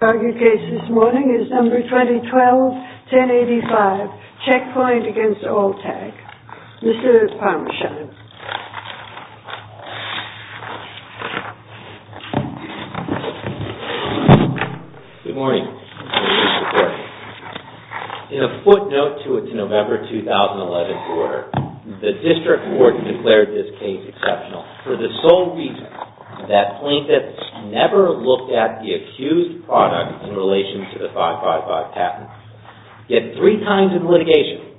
The argued case this morning is number 2012-1085, CHECKPOINT v. ALL TAG. Mr. Palmeschad. Good morning. In a footnote to its November 2011 order, the District Court declared this case exceptional for the sole reason that plaintiffs never looked at the accused product in relation to the 555 patent. Yet three times in litigation,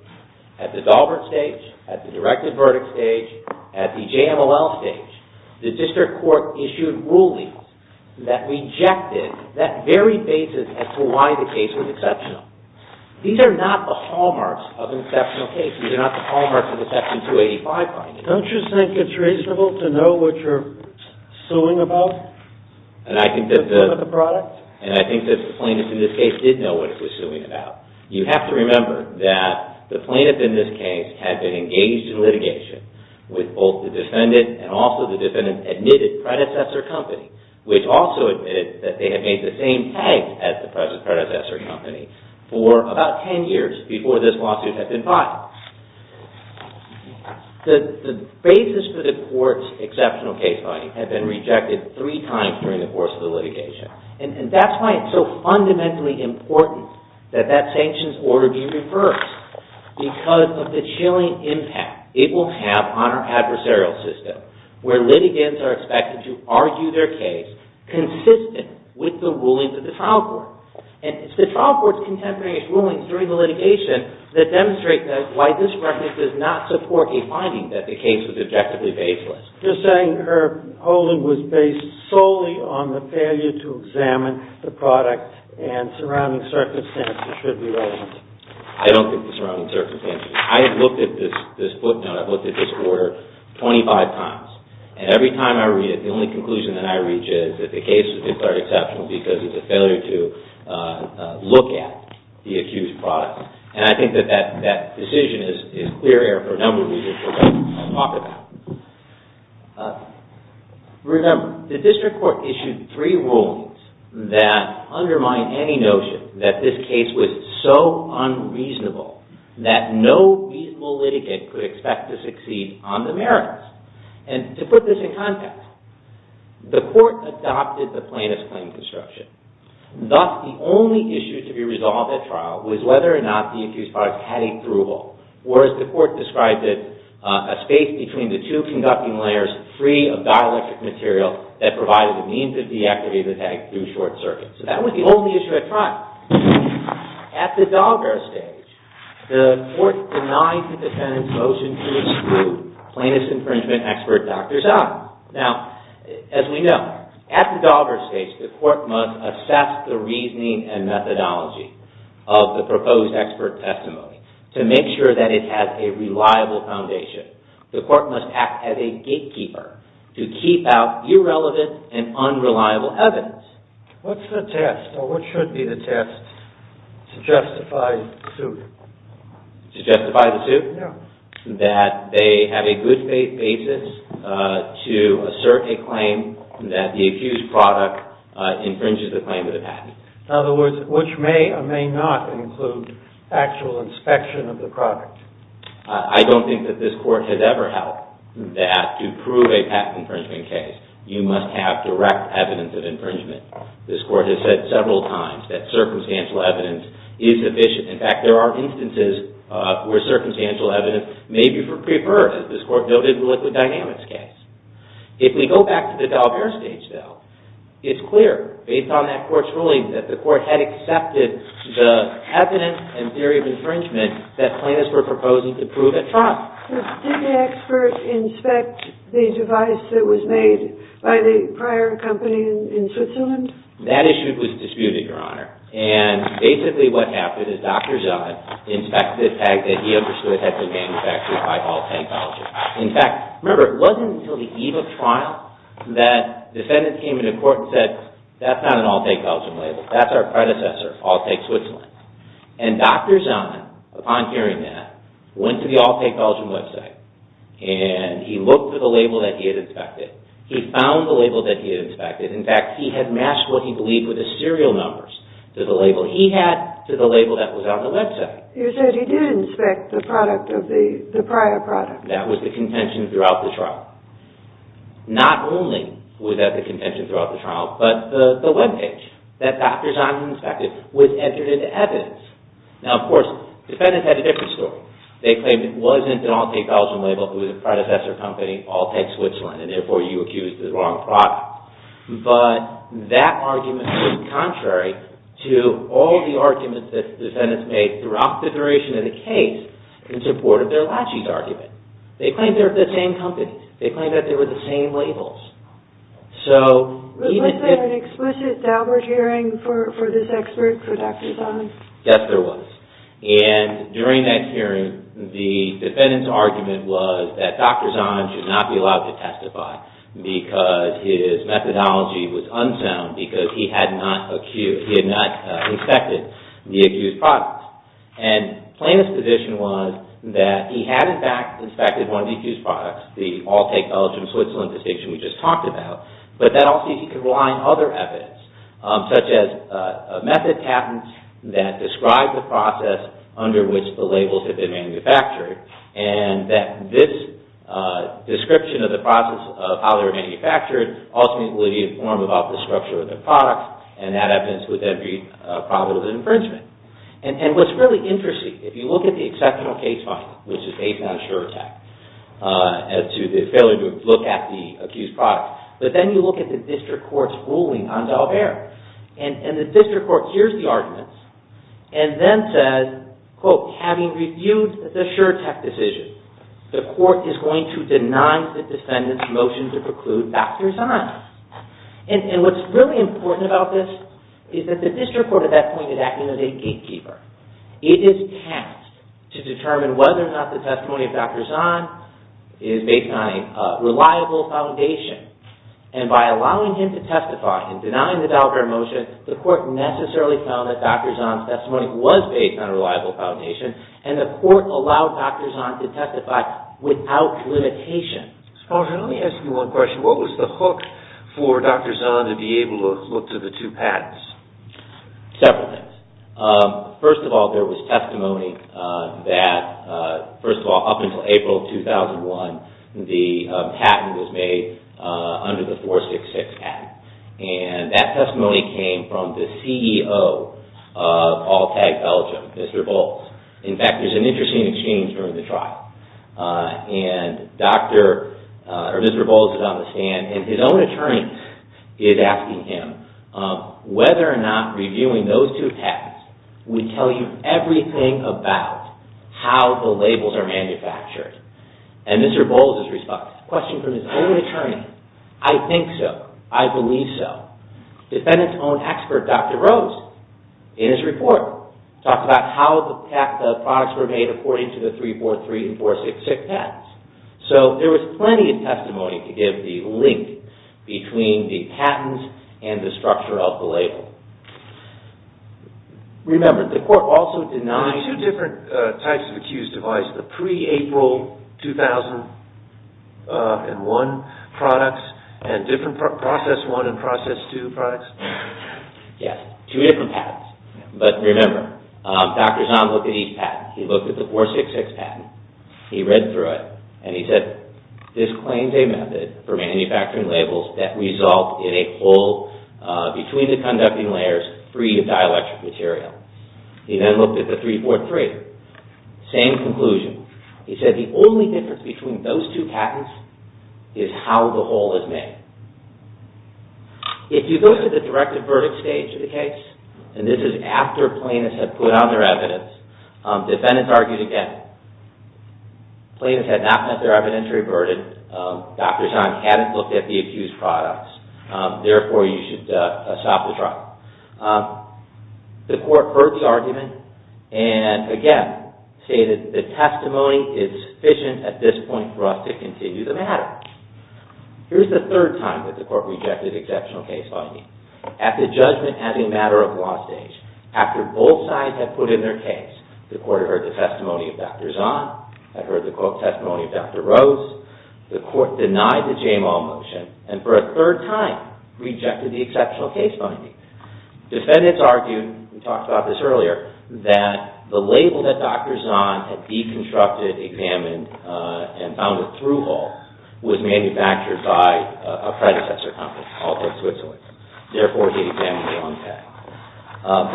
at the Daubert stage, at the Directed Verdict stage, at the JMLL stage, the District Court issued rulings that rejected that very basis as to why the case was exceptional. These are not the hallmarks of an exceptional case. These are not the hallmarks of a Section 285 case. Don't you think it's reasonable to know what you're suing about? And I think that the plaintiff in this case did know what he was suing about. You have to remember that the plaintiff in this case had been engaged in litigation with both the defendant and also the defendant's admitted predecessor company, which also admitted that they had made the same tags as the present predecessor company for about ten years before this lawsuit had been filed. The basis for the Court's exceptional case finding had been rejected three times during the course of the litigation. And that's why it's so fundamentally important that that sanctions order be reversed. Because of the chilling impact it will have on our adversarial system, where litigants are expected to argue their case consistent with the rulings of the trial court. And it's the trial court's contemporaneous rulings during the litigation that demonstrate that why this record does not support a finding that the case was objectively baseless. You're saying her holding was based solely on the failure to examine the product and surrounding circumstances should be reversed. I don't think the surrounding circumstances. I have looked at this footnote, I've looked at this order 25 times. And every time I read it, the only conclusion that I reach is that the case was declared exceptional because of the failure to look at the accused product. And I think that that decision is clear error for a number of reasons which I'll talk about. Remember, the district court issued three rulings that undermine any notion that this case was so unreasonable that no reasonable litigant could expect to succeed on the merits. And to put this in context, the court adopted the plaintiff's claim construction. Thus, the only issue to be resolved at trial was whether or not the accused product had a through-hole, or as the court described it, a space between the two conducting layers free of dielectric material that provided the means of deactivating the tag through short circuit. So that was the only issue at trial. At the dogger stage, the court denied the defendant's motion to exclude plaintiff's infringement expert, Dr. Zahn. Now, as we know, at the dogger stage, the court must assess the reasoning and methodology of the proposed expert testimony to make sure that it has a reliable foundation. The court must act as a gatekeeper to keep out irrelevant and unreliable evidence. What's the test, or what should be the test to justify the suit? To justify the suit? Yeah. That they have a good basis to assert a claim that the accused product infringes the claim of the patent. In other words, which may or may not include actual inspection of the product. I don't think that this court has ever held that to prove a patent infringement case, you must have direct evidence of infringement. This court has said several times that circumstantial evidence is sufficient. In fact, there are instances where circumstantial evidence may be preferred, as this court noted in the liquid dynamics case. If we go back to the dogger stage, though, it's clear, based on that court's ruling, that the court had accepted the evidence and theory of infringement that plaintiffs were proposing to prove at trial. Did the expert inspect the device that was made by the prior company in Switzerland? That issue was disputed, Your Honor. And basically what happened is Dr. Zahn inspected a tag that he understood had been manufactured by Alltag Belgium. In fact, remember, it wasn't until the eve of trial that defendants came into court and said, that's not an Alltag Belgium label, that's our predecessor, Alltag Switzerland. And Dr. Zahn, upon hearing that, went to the Alltag Belgium website and he looked for the label that he had inspected. He found the label that he had inspected. In fact, he had matched what he believed were the serial numbers to the label he had to the label that was on the website. You said he did inspect the product of the prior product. That was the contention throughout the trial. Not only was that the contention throughout the trial, but the webpage that Dr. Zahn inspected was entered into evidence. Now, of course, defendants had a different story. They claimed it wasn't an Alltag Belgium label, it was a predecessor company, Alltag Switzerland, and therefore you accused the wrong product. But that argument was contrary to all the arguments that defendants made throughout the duration of the case in support of their Lachi's argument. They claimed they were the same company. They claimed that they were the same labels. Was there an explicit Dalbert hearing for this expert, for Dr. Zahn? Yes, there was. And during that hearing, the defendant's argument was that Dr. Zahn should not be allowed to testify because his methodology was unsound because he had not inspected the accused product. Plaintiff's position was that he had, in fact, inspected one of the accused products, the Alltag Belgium Switzerland petition we just talked about, but that also he could rely on other evidence, such as a method patent that described the process under which the labels had been manufactured, and that this description of the process of how they were manufactured ultimately would inform about the structure of the product, and that evidence would then be probable infringement. And what's really interesting, if you look at the exceptional case file, which is based on SureTech, as to the failure to look at the accused product, but then you look at the district court's ruling on Dalbert, and the district court hears the arguments and then says, quote, having reviewed the SureTech decision, the court is going to deny the defendant's motion to preclude Dr. Zahn. And what's really important about this is that the district court at that point in time is acting as a gatekeeper. It is tasked to determine whether or not the testimony of Dr. Zahn is based on a reliable foundation, and by allowing him to testify and denying the Dalbert motion, the court necessarily found that Dr. Zahn's testimony was based on a reliable foundation, and the court allowed Dr. Zahn to testify without limitation. Sponge, let me ask you one question. What was the hook for Dr. Zahn to be able to look to the two patents? Several things. First of all, there was testimony that, first of all, up until April 2001, the patent was made under the 466 patent, and that testimony came from the CEO of Alltag Belgium, Mr. Bolz. In fact, there's an interesting exchange during the trial, and Mr. Bolz is on the stand, and his own attorney is asking him whether or not reviewing those two patents would tell you everything about how the labels are manufactured. And Mr. Bolz responds, a question from his own attorney, I think so, I believe so. Defendant's own expert, Dr. Rose, in his report, talks about how the products were made according to the 343 and 466 patents. So there was plenty of testimony to give the link between the patents and the structure of the label. Remember, the court also denied... There were two different types of accused of lies, the pre-April 2001 products, and different process one and process two products. Yes, two different patents. But remember, Dr. Zahn looked at each patent. He looked at the 466 patent. He read through it, and he said, this claims a method for manufacturing labels that result in a hole between the conducting layers free of dielectric material. He then looked at the 343. Same conclusion. He said the only difference between those two patents is how the hole is made. If you go to the directive verdict stage of the case, and this is after plaintiffs have put out their evidence, defendants argued again. Plaintiffs had not met their evidentiary burden. Dr. Zahn hadn't looked at the accused products. Therefore, you should stop the trial. The court heard the argument, and again, stated the testimony is sufficient at this point for us to continue the matter. Here's the third time that the court rejected exceptional case finding. At the judgment as a matter of law stage, after both sides had put in their case, the court had heard the testimony of Dr. Zahn, had heard the testimony of Dr. Rose. The court denied the J-Mall motion, and for a third time, rejected the exceptional case finding. Defendants argued, we talked about this earlier, that the label that Dr. Zahn had deconstructed, examined, and found a through-hole was manufactured by a predecessor company, Halter Switzerland. Therefore, he examined the wrong patent.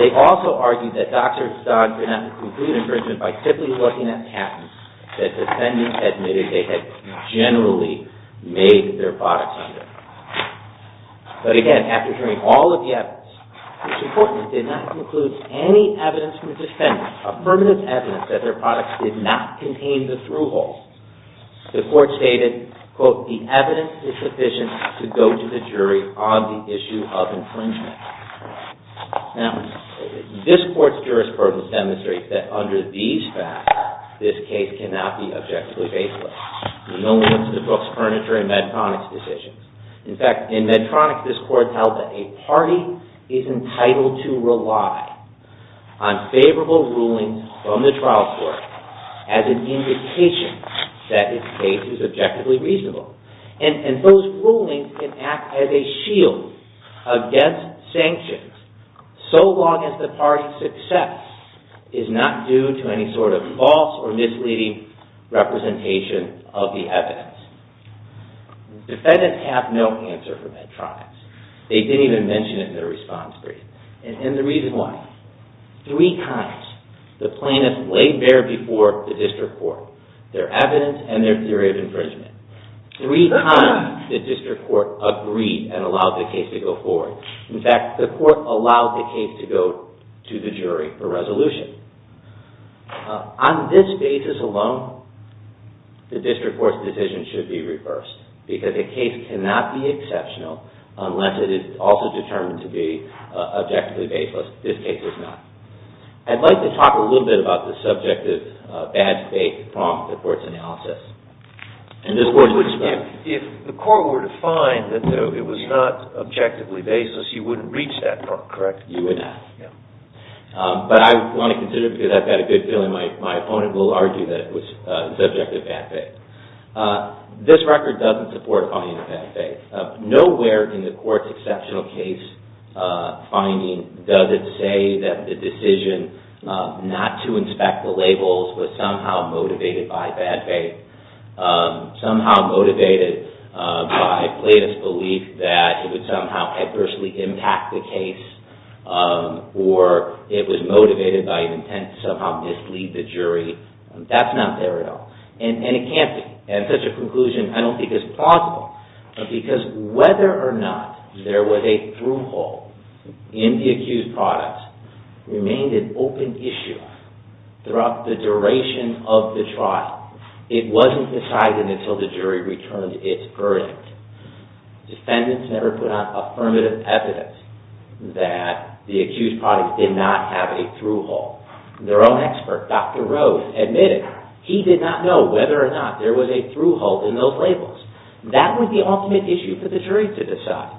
They also argued that Dr. Zahn did not conclude infringement by simply looking at patents that defendants admitted they had generally made their products under. But again, after hearing all of the evidence, which importantly, did not conclude any evidence from the defendants, affirmative evidence that their products did not contain the through-holes, the court stated, quote, the evidence is sufficient to go to the jury on the issue of infringement. Now, this court's jurisprudence demonstrates that under these facts, this case cannot be objectively baseless. We know this from the Brooks Furniture and Medtronic decisions. In fact, in Medtronic, this court held that a party is entitled to rely on favorable rulings from the trial court as an indication that its case is objectively reasonable. And those rulings can act as a shield against sanctions so long as the party's success is not due to any sort of false or misleading representation of the evidence. Defendants have no answer for Medtronics. They didn't even mention it in their response brief. And the reason why? Three times, the plaintiffs laid bare before the district court their evidence and their theory of infringement. Three times, the district court agreed and allowed the case to go forward. In fact, the court allowed the case to go to the jury for resolution. On this basis alone, the district court's decision should be reversed. Because a case cannot be exceptional unless it is also determined to be objectively baseless. This case is not. I'd like to talk a little bit about the subject of bad faith to prompt the court's analysis. If the court were to find that it was not objectively baseless, you wouldn't reach that point, correct? You would not. But I want to consider it because I've got a good feeling my opponent will argue that it was subject to bad faith. This record doesn't support finding bad faith. Nowhere in the court's exceptional case finding does it say that the decision not to inspect the labels was somehow motivated by bad faith, somehow motivated by plaintiff's belief that it would somehow adversely impact the case, or it was motivated by an intent to somehow mislead the jury. That's not there at all. And it can't be. And such a conclusion, I don't think, is plausible. Because whether or not there was a through-hole in the accused product remained an open issue throughout the duration of the trial. It wasn't decided until the jury returned its verdict. Defendants never put out affirmative evidence that the accused product did not have a through-hole. Their own expert, Dr. Rhodes, admitted he did not know whether or not there was a through-hole in those labels. That was the ultimate issue for the jury to decide.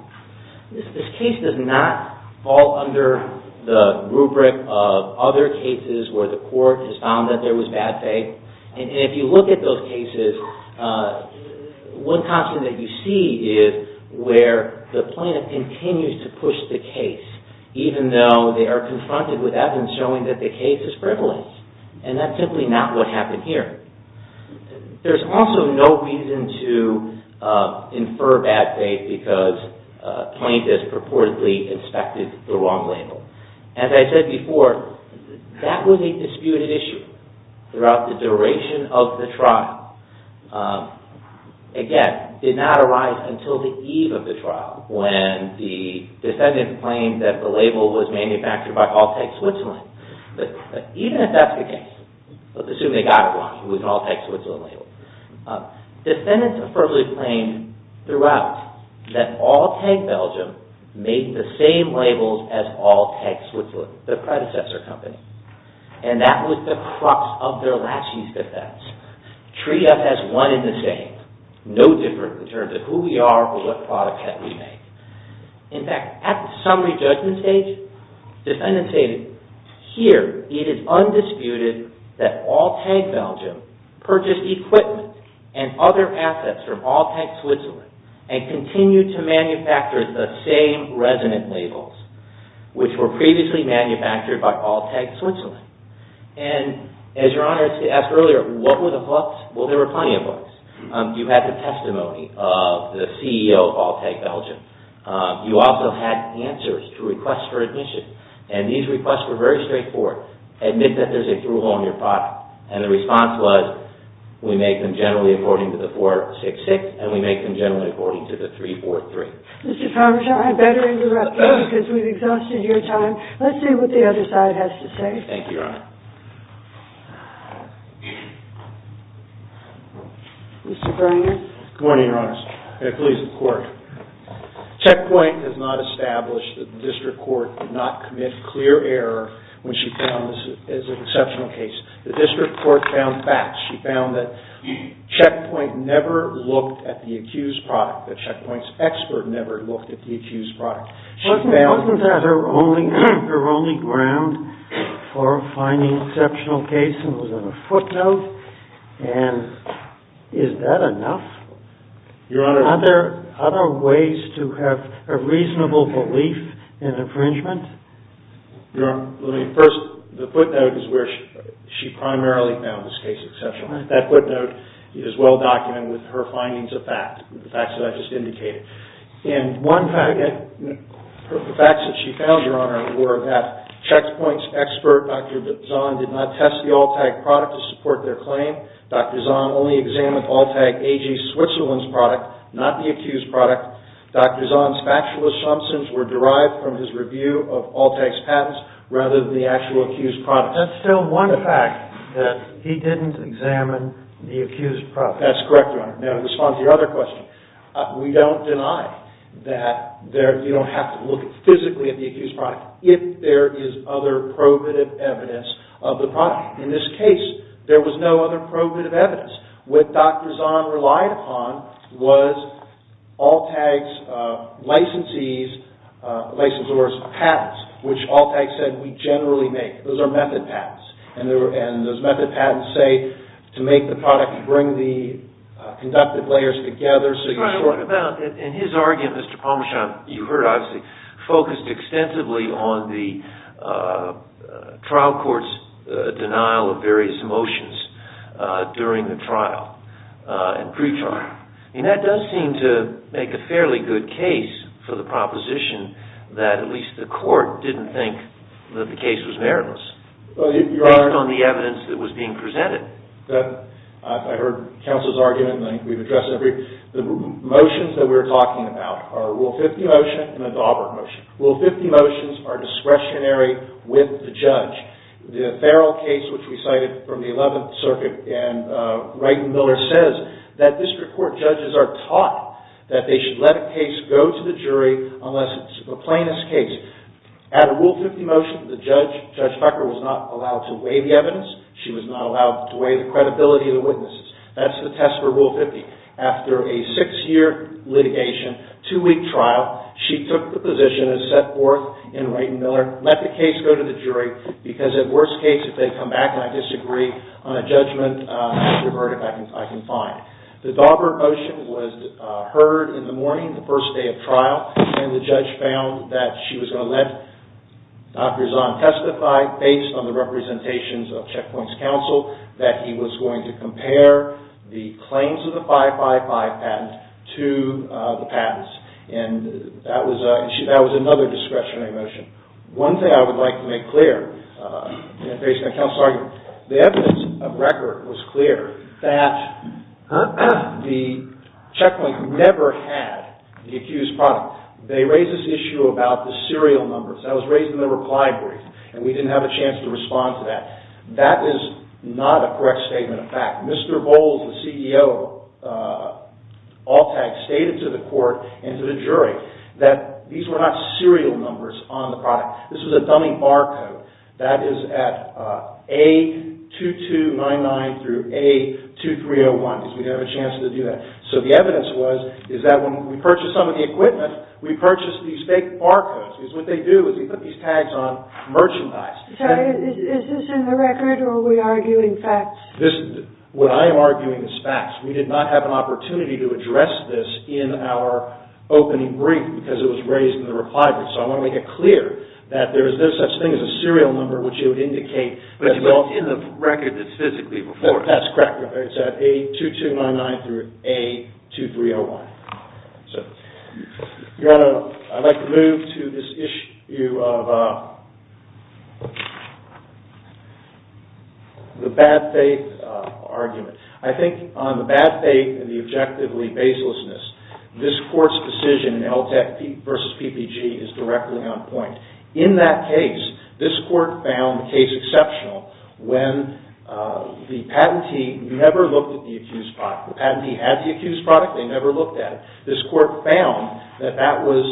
This case does not fall under the rubric of other cases where the court has found that there was bad faith. And if you look at those cases, one constant that you see is where the plaintiff continues to push the case, even though they are confronted with evidence showing that the case is frivolous. And that's simply not what happened here. There's also no reason to infer bad faith because plaintiffs purportedly inspected the wrong label. As I said before, that was a disputed issue throughout the duration of the trial. Again, it did not arise until the eve of the trial when the defendant claimed that the label was manufactured by Altec Switzerland. Even if that's the case, let's assume they got it wrong, it was an Altec Switzerland label. Defendants affirmably claimed throughout that Altec Belgium made the same labels as Altec Switzerland, their predecessor company. And that was the crux of their last use defense. Triage has one in the same. No difference in terms of who we are or what product we make. In fact, at the summary judgment stage, defendants say, here, it is undisputed that Altec Belgium purchased equipment and other assets from Altec Switzerland and continued to manufacture the same resident labels which were previously manufactured by Altec Switzerland. And as Your Honor asked earlier, what were the books? Well, there were plenty of books. You had the testimony of the CEO of Altec Belgium. You also had answers to requests for admission. And these requests were very straightforward. Admit that there's a through-haul in your product. And the response was, we make them generally according to the 466 and we make them generally according to the 343. Mr. Parmesan, I better interrupt you because we've exhausted your time. Let's see what the other side has to say. Thank you, Your Honor. Mr. Granger. Good morning, Your Honor. May it please the Court. Checkpoint has not established that the District Court did not commit clear error when she found this is an exceptional case. The District Court found facts. She found that Checkpoint never looked at the accused product. That Checkpoint's expert never looked at the accused product. Wasn't that her only ground for finding an exceptional case and was on a footnote? And is that enough? Your Honor. Are there other ways to have a reasonable belief in infringement? Your Honor, let me first... The footnote is where she primarily found this case exceptional. That footnote is well documented with her findings of fact, the facts that I've just indicated. And one fact... The facts that she found, Your Honor, were that Checkpoint's expert, Dr. Zahn, did not test the Alltag product to support their claim. Dr. Zahn only examined Alltag AG Switzerland's product, not the accused product. Dr. Zahn's factual assumptions were derived from his review of Alltag's patents rather than the actual accused product. That's still one fact, that he didn't examine the accused product. That's correct, Your Honor. Now in response to your other question, we don't deny that you don't have to look physically at the accused product if there is other probative evidence of the product. In this case, there was no other probative evidence. What Dr. Zahn relied upon was Alltag's licensors' patents, which Alltag said, we generally make. Those are method patents. And those method patents say, to make the product, you bring the conductive layers together... In his argument, Mr. Pomerchand, you heard, obviously, focused extensively on the trial court's denial of various motions during the trial and pre-trial. And that does seem to make a fairly good case for the proposition that at least the court didn't think that the case was meritless based on the evidence that was being presented. I heard counsel's argument, and I think we've addressed every... The motions that we're talking about are Rule 50 motion and the Daubert motion. Rule 50 motions are discretionary with the judge. The Farrell case, which we cited from the 11th Circuit, and Wright and Miller says that district court judges are taught that they should let a case go to the jury unless it's a plaintiff's case. At a Rule 50 motion, the judge, Judge Becker, was not allowed to weigh the evidence. She was not allowed to weigh the credibility of the witnesses. That's the test for Rule 50. After a six-year litigation, two-week trial, she took the position and set forth in Wright and Miller, let the case go to the jury because, at worst case, if they come back and I disagree on a judgment, I'll revert if I can find. The Daubert motion was heard in the morning, the first day of trial, and the judge found that she was going to let Dr. Zahn testify based on the representations of Checkpoint's counsel that he was going to compare the claims of the 555 patent to the patents. That was another discretionary motion. One thing I would like to make clear, based on the counsel's argument, the evidence of record was clear that the Checkpoint never had the accused product. They raised this issue about the serial numbers. That was raised in the reply brief, and we didn't have a chance to respond to that. That is not a correct statement of fact. Mr. Bowles, the CEO of Alltag, stated to the court and to the jury that these were not serial numbers on the product. This was a dummy barcode that is at A2299 through A2301 because we didn't have a chance to do that. The evidence was that when we purchased some of the equipment, we purchased these fake barcodes because what they do is they put these tags on merchandise. Is this in the record, or are we arguing facts? What I am arguing is facts. We did not have an opportunity to address this in our opening brief because it was raised in the reply brief. I want to make it clear that there is no such thing as a serial number which you would indicate as well. But it's in the record that's physically before it. That's correct. It's at A2299 through A2301. I'd like to move to this issue of the bad faith argument. I think on the bad faith and the objectively baselessness, this court's decision in Alltag v. PPG is directly on point. In that case, this court found the case exceptional when the patentee never looked at the accused product. The patentee had the accused product. They never looked at it. This court found that that was,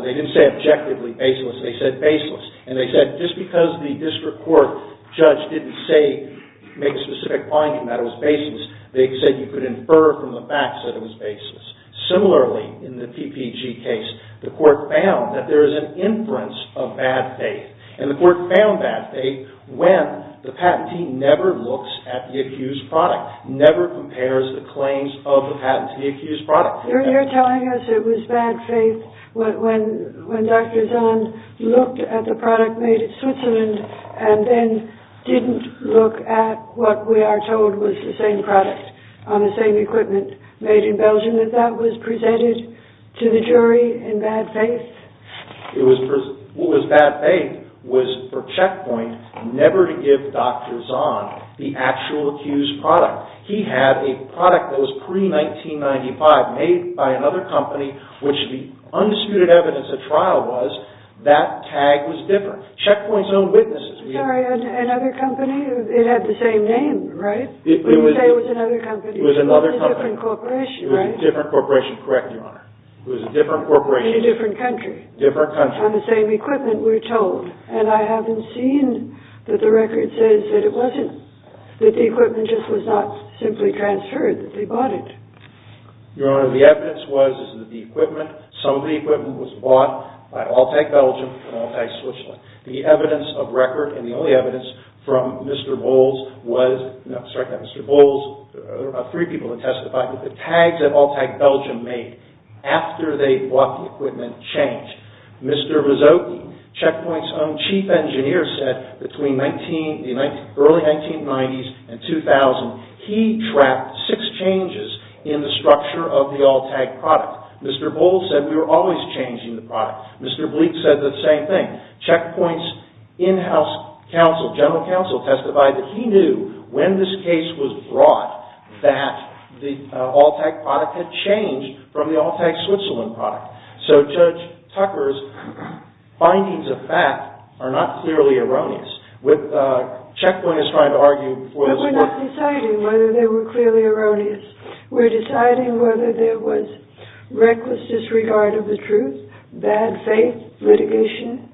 they didn't say objectively baseless. They said baseless. And they said just because the district court judge didn't make a specific finding that it was baseless, they said you could infer from the facts that it was baseless. Similarly, in the PPG case, the court found that there is an inference of bad faith. And the court found bad faith when the patentee never looks at the accused product, never compares the claims of the patentee to the accused product. You're telling us it was bad faith when Dr. Zahn looked at the product made in Switzerland and then didn't look at what we are told was the same product on the same equipment made in Belgium, that that was presented to the jury in bad faith? What was bad faith was for Checkpoint never to give Dr. Zahn the actual accused product. He had a product that was pre-1995 made by another company, which the undisputed evidence of trial was that tag was different. Checkpoint's own witnesses. Sorry, another company? It had the same name, right? When you say it was another company, it was a different corporation, right? It was a different corporation. Correct, Your Honor. It was a different corporation. In a different country. Different country. On the same equipment, we're told. And I haven't seen that the record says that it wasn't, that the equipment just was not simply transferred, that they bought it. Your Honor, the evidence was that the equipment, some of the equipment, was bought by Alltag Belgium and Alltag Switzerland. The evidence of record and the only evidence from Mr. Bowles was, sorry, not Mr. Bowles, there were about three people that testified, that the tags that Alltag Belgium made after they bought the equipment changed. Mr. Rizzotti, Checkpoint's own chief engineer, said between the early 1990s and 2000, he tracked six changes in the structure of the Alltag product. Mr. Bowles said we were always changing the product. Mr. Bleek said the same thing. Checkpoint's in-house counsel, general counsel, testified that he knew when this case was brought, that the Alltag product had changed from the Alltag Switzerland product. So Judge Tucker's findings of fact are not clearly erroneous. Checkpoint is trying to argue, But we're not deciding whether they were clearly erroneous. We're deciding whether there was reckless disregard of the truth, bad faith, litigation.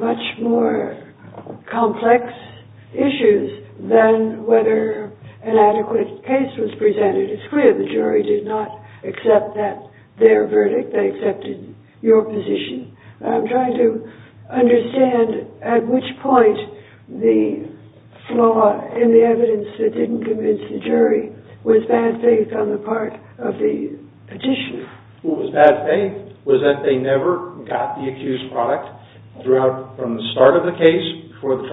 Much more complex issues than whether an adequate case was presented. It's clear the jury did not accept their verdict. They accepted your position. I'm trying to understand at which point the flaw in the evidence that didn't convince the jury was bad faith on the part of the petitioner. What was bad faith was that they never got the accused product from the start of the case before it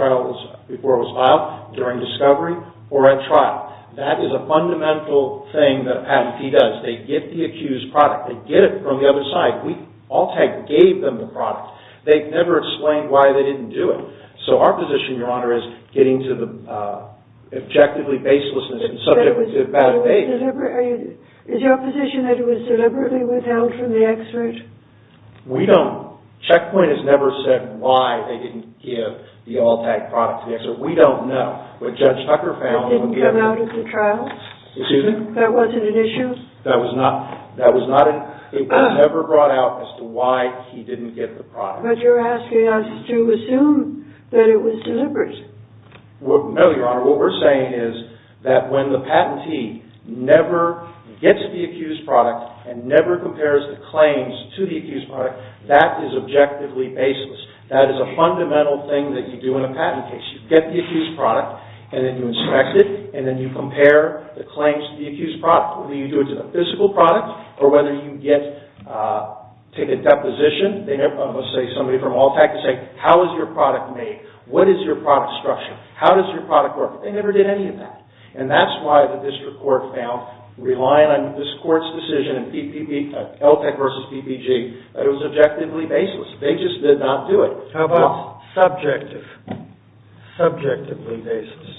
was filed, during discovery, or at trial. That is a fundamental thing that a patentee does. They get the accused product. They get it from the other side. Alltag gave them the product. They never explained why they didn't do it. So our position, Your Honor, is getting to the objectively baselessness and subject it to bad faith. Is your position that it was deliberately withheld from the expert? We don't... Checkpoint has never said why they didn't give the Alltag product to the expert. We don't know. What Judge Tucker found... It didn't come out of the trial? Excuse me? That wasn't an issue? That was not... It was never brought out as to why he didn't get the product. But you're asking us to assume that it was deliberate. No, Your Honor. What we're saying is that when the patentee never gets the accused product and never compares the claims to the accused product, that is objectively baseless. That is a fundamental thing that you do in a patent case. You get the accused product, and then you inspect it, and then you compare the claims to the accused product, whether you do it to the physical product or whether you take a deposition. Somebody from Alltag can say, How is your product made? What is your product structure? How does your product work? They never did any of that. And that's why the district court found, relying on this court's decision in Alltag v. PPG, that it was objectively baseless. They just did not do it. How about subjective? Subjectively baseless.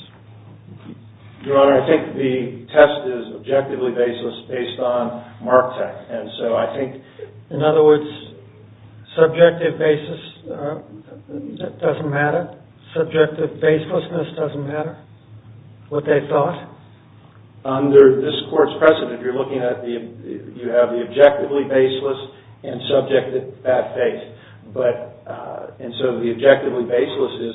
Your Honor, I think the test is objectively baseless based on Mark tech. And so I think, in other words, subjective basis doesn't matter. Subjective baselessness doesn't matter? What they thought? Under this court's precedent, you're looking at the objectively baseless and subjective bad faith. And so the objectively baseless is,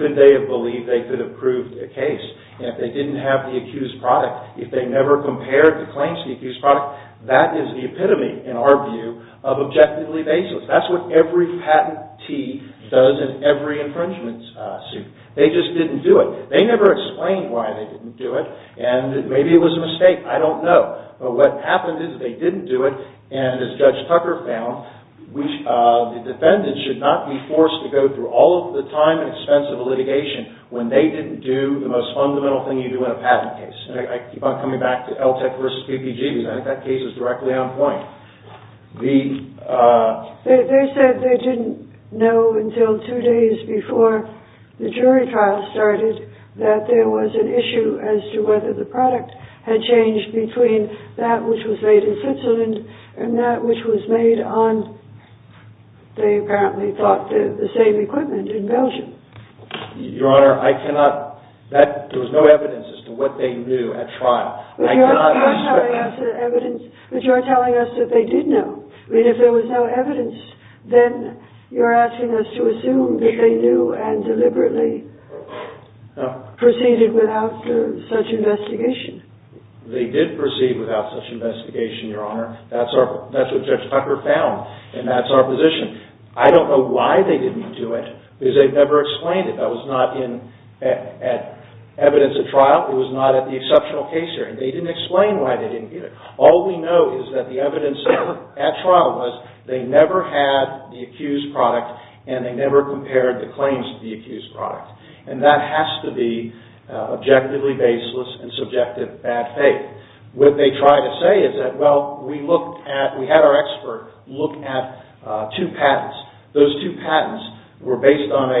could they have believed they could have proved a case if they didn't have the accused product? If they never compared the claims to the accused product, that is the epitome, in our view, of objectively baseless. That's what every patentee does in every infringement suit. They just didn't do it. They never explained why they didn't do it. And maybe it was a mistake. I don't know. But what happened is they didn't do it. And as Judge Tucker found, the defendant should not be forced to go through all of the time and expense of a litigation when they didn't do the most fundamental thing you do in a patent case. And I keep on coming back to Alltag v. PPG because I think that case is directly on point. They said they didn't know until two days before the jury trial started that there was an issue as to whether the product had changed between that which was made in Switzerland and that which was made on, they apparently thought, the same equipment in Belgium. Your Honor, I cannot... There was no evidence as to what they knew at trial. But you're telling us that they did know. I mean, if there was no evidence, then you're asking us to assume that they knew and deliberately proceeded without such investigation. They did proceed without such investigation, Your Honor. That's what Judge Tucker found. And that's our position. I don't know why they didn't do it because they never explained it. That was not in evidence at trial. It was not at the exceptional case hearing. They didn't explain why they didn't get it. All we know is that the evidence at trial was they never had the accused product and they never compared the claims to the accused product. And that has to be objectively baseless and subjective bad faith. What they try to say is that, well, we had our expert look at two patents. Those two patents were based on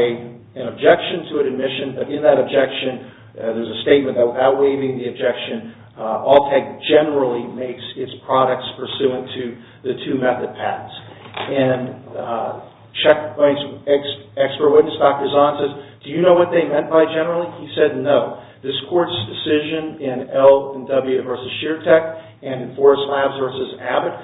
an objection to an admission. But in that objection, there's a statement outweighing the objection. All tech generally makes its products pursuant to the two method patents. And checkpoints expert witness, Dr. Zahn, says, do you know what they meant by generally? He said no. This court's decision in L&W versus Sheertech and Forest Labs versus Abbott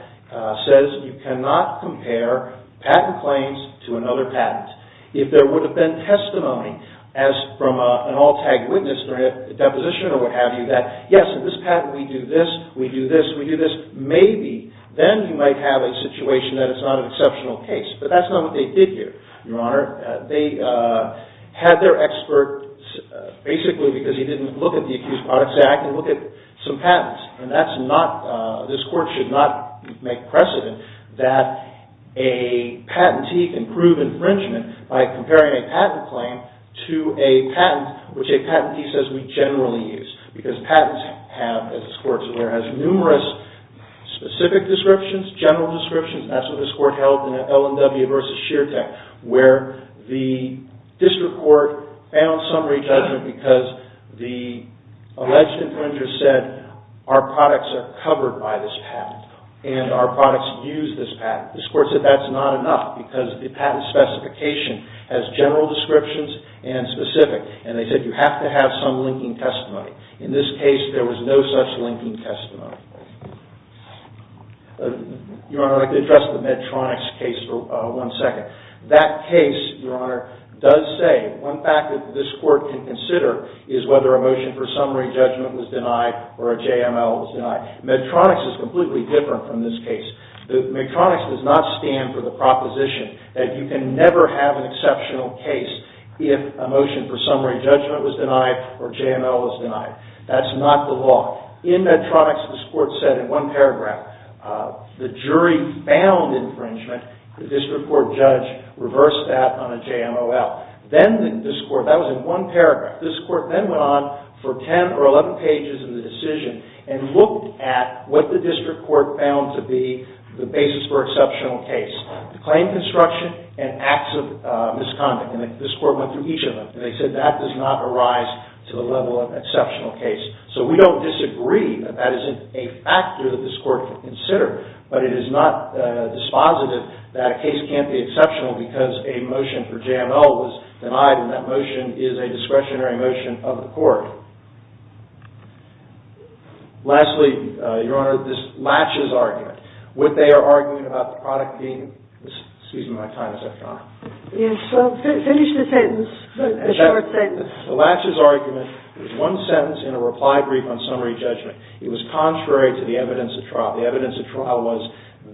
says you cannot compare patent claims to another patent. If there would have been testimony as from an all-tech witness during a deposition or what have you that, yes, in this patent we do this, we do this, we do this, maybe then you might have a situation that it's not an exceptional case. But that's not what they did here, Your Honor. They had their expert basically because he didn't look at the accused product say, I can look at some patents. And that's not, this court should not make precedent that a patentee can prove infringement by comparing a patent claim to a patent which a patentee says we generally use. Because patents have, as this court is aware, has numerous specific descriptions, general descriptions. That's what this court held in L&W versus Sheertech where the district court found summary judgment because the alleged infringer said our products are covered by this patent and our products use this patent. This court said that's not enough because the patent specification has general descriptions and specific. And they said you have to have some linking testimony. In this case, there was no such linking testimony. Your Honor, I'd like to address the Medtronix case for one second. That case, Your Honor, does say, one fact that this court can consider is whether a motion for summary judgment was denied or a JML was denied. Medtronix is completely different from this case. Medtronix does not stand for the proposition that you can never have an exceptional case if a motion for summary judgment was denied or JML was denied. That's not the law. In Medtronix, this court said in one paragraph, the jury found infringement. The district court judge reversed that on a JML. That was in one paragraph. This court then went on for 10 or 11 pages of the decision and looked at what the district court found to be the basis for exceptional case. The claim construction and acts of misconduct. And this court went through each of them. They said that does not arise to the level of exceptional case. So we don't disagree that that isn't a factor that this court can consider. But it is not dispositive that a case can't be exceptional because a motion for JML was denied and that motion is a discretionary motion of the court. Lastly, Your Honor, this Latches argument. What they are arguing about the product being... Excuse me, my time is up, Your Honor. Yes, finish the sentence, the short sentence. The Latches argument is one sentence in a reply brief on summary judgment. It was contrary to the evidence of trial. The evidence of trial was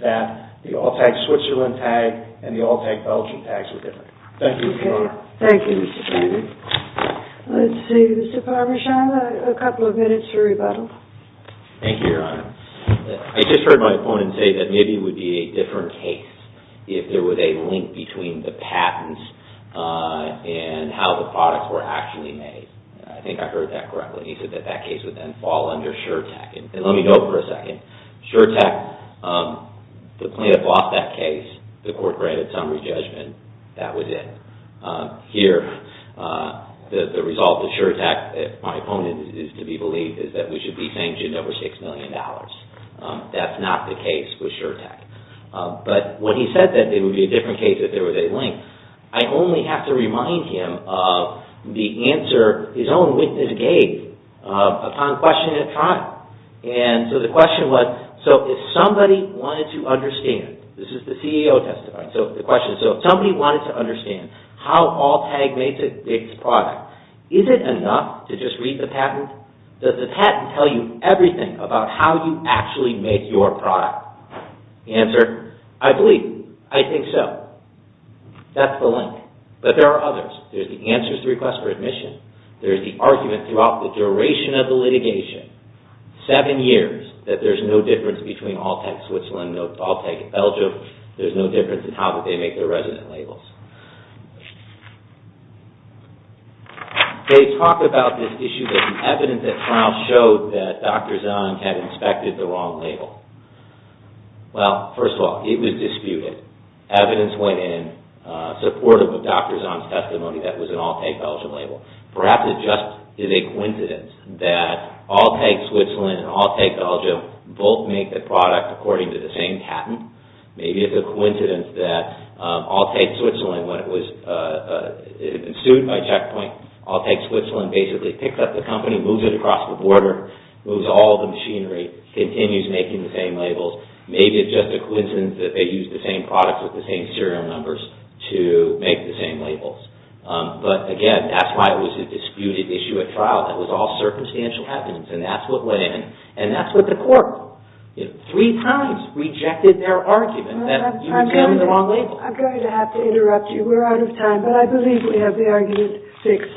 that the all-tag Switzerland tag and the all-tag Belgium tags were different. Thank you, Your Honor. Thank you, Mr. Chairman. Let's see, Mr. Parbashan, a couple of minutes for rebuttal. Thank you, Your Honor. I just heard my opponent say that maybe it would be a different case if there was a link between the patents and how the products were actually made. I think I heard that correctly. He said that that case would then fall under Sure Tech. And let me go for a second. Sure Tech, the plaintiff lost that case. The court granted summary judgment. That was it. Here, the result of Sure Tech, my opponent is to be believed, is that we should be sanctioned over $6 million. That's not the case with Sure Tech. But when he said that it would be a different case if there was a link, I only have to remind him of the answer his own witness gave upon questioning the product. And so the question was, so if somebody wanted to understand, this is the CEO testifying, so the question is, so if somebody wanted to understand how Alltech makes its product, is it enough to just read the patent? Does the patent tell you everything about how you actually make your product? The answer, I believe, I think so. That's the link. But there are others. There's the answers to requests for admission. There's the argument throughout the duration of the litigation, seven years, that there's no difference between Alltech Switzerland, No Alltech Belgium. There's no difference in how they make their resident labels. They talk about this issue that the evidence at trial showed that Dr. Zahn had inspected the wrong label. Well, first of all, it was disputed. Evidence went in supportive of Dr. Zahn's testimony that it was an Alltech Belgium label. Perhaps it just is a coincidence that Alltech Switzerland and Alltech Belgium both make the product according to the same patent. Maybe it's a coincidence that Alltech Switzerland, when it was sued by Checkpoint, Alltech Switzerland basically picks up the company, moves it across the border, moves all the machinery, continues making the same labels. Maybe it's just a coincidence that they use the same products with the same serial numbers to make the same labels. But again, that's why it was a disputed issue at trial. That was all circumstantial evidence. And that's what went in. And that's what the court, three times rejected their argument that you used the wrong label. I'm going to have to interrupt you. We're out of time. But I believe we have the argument fixed.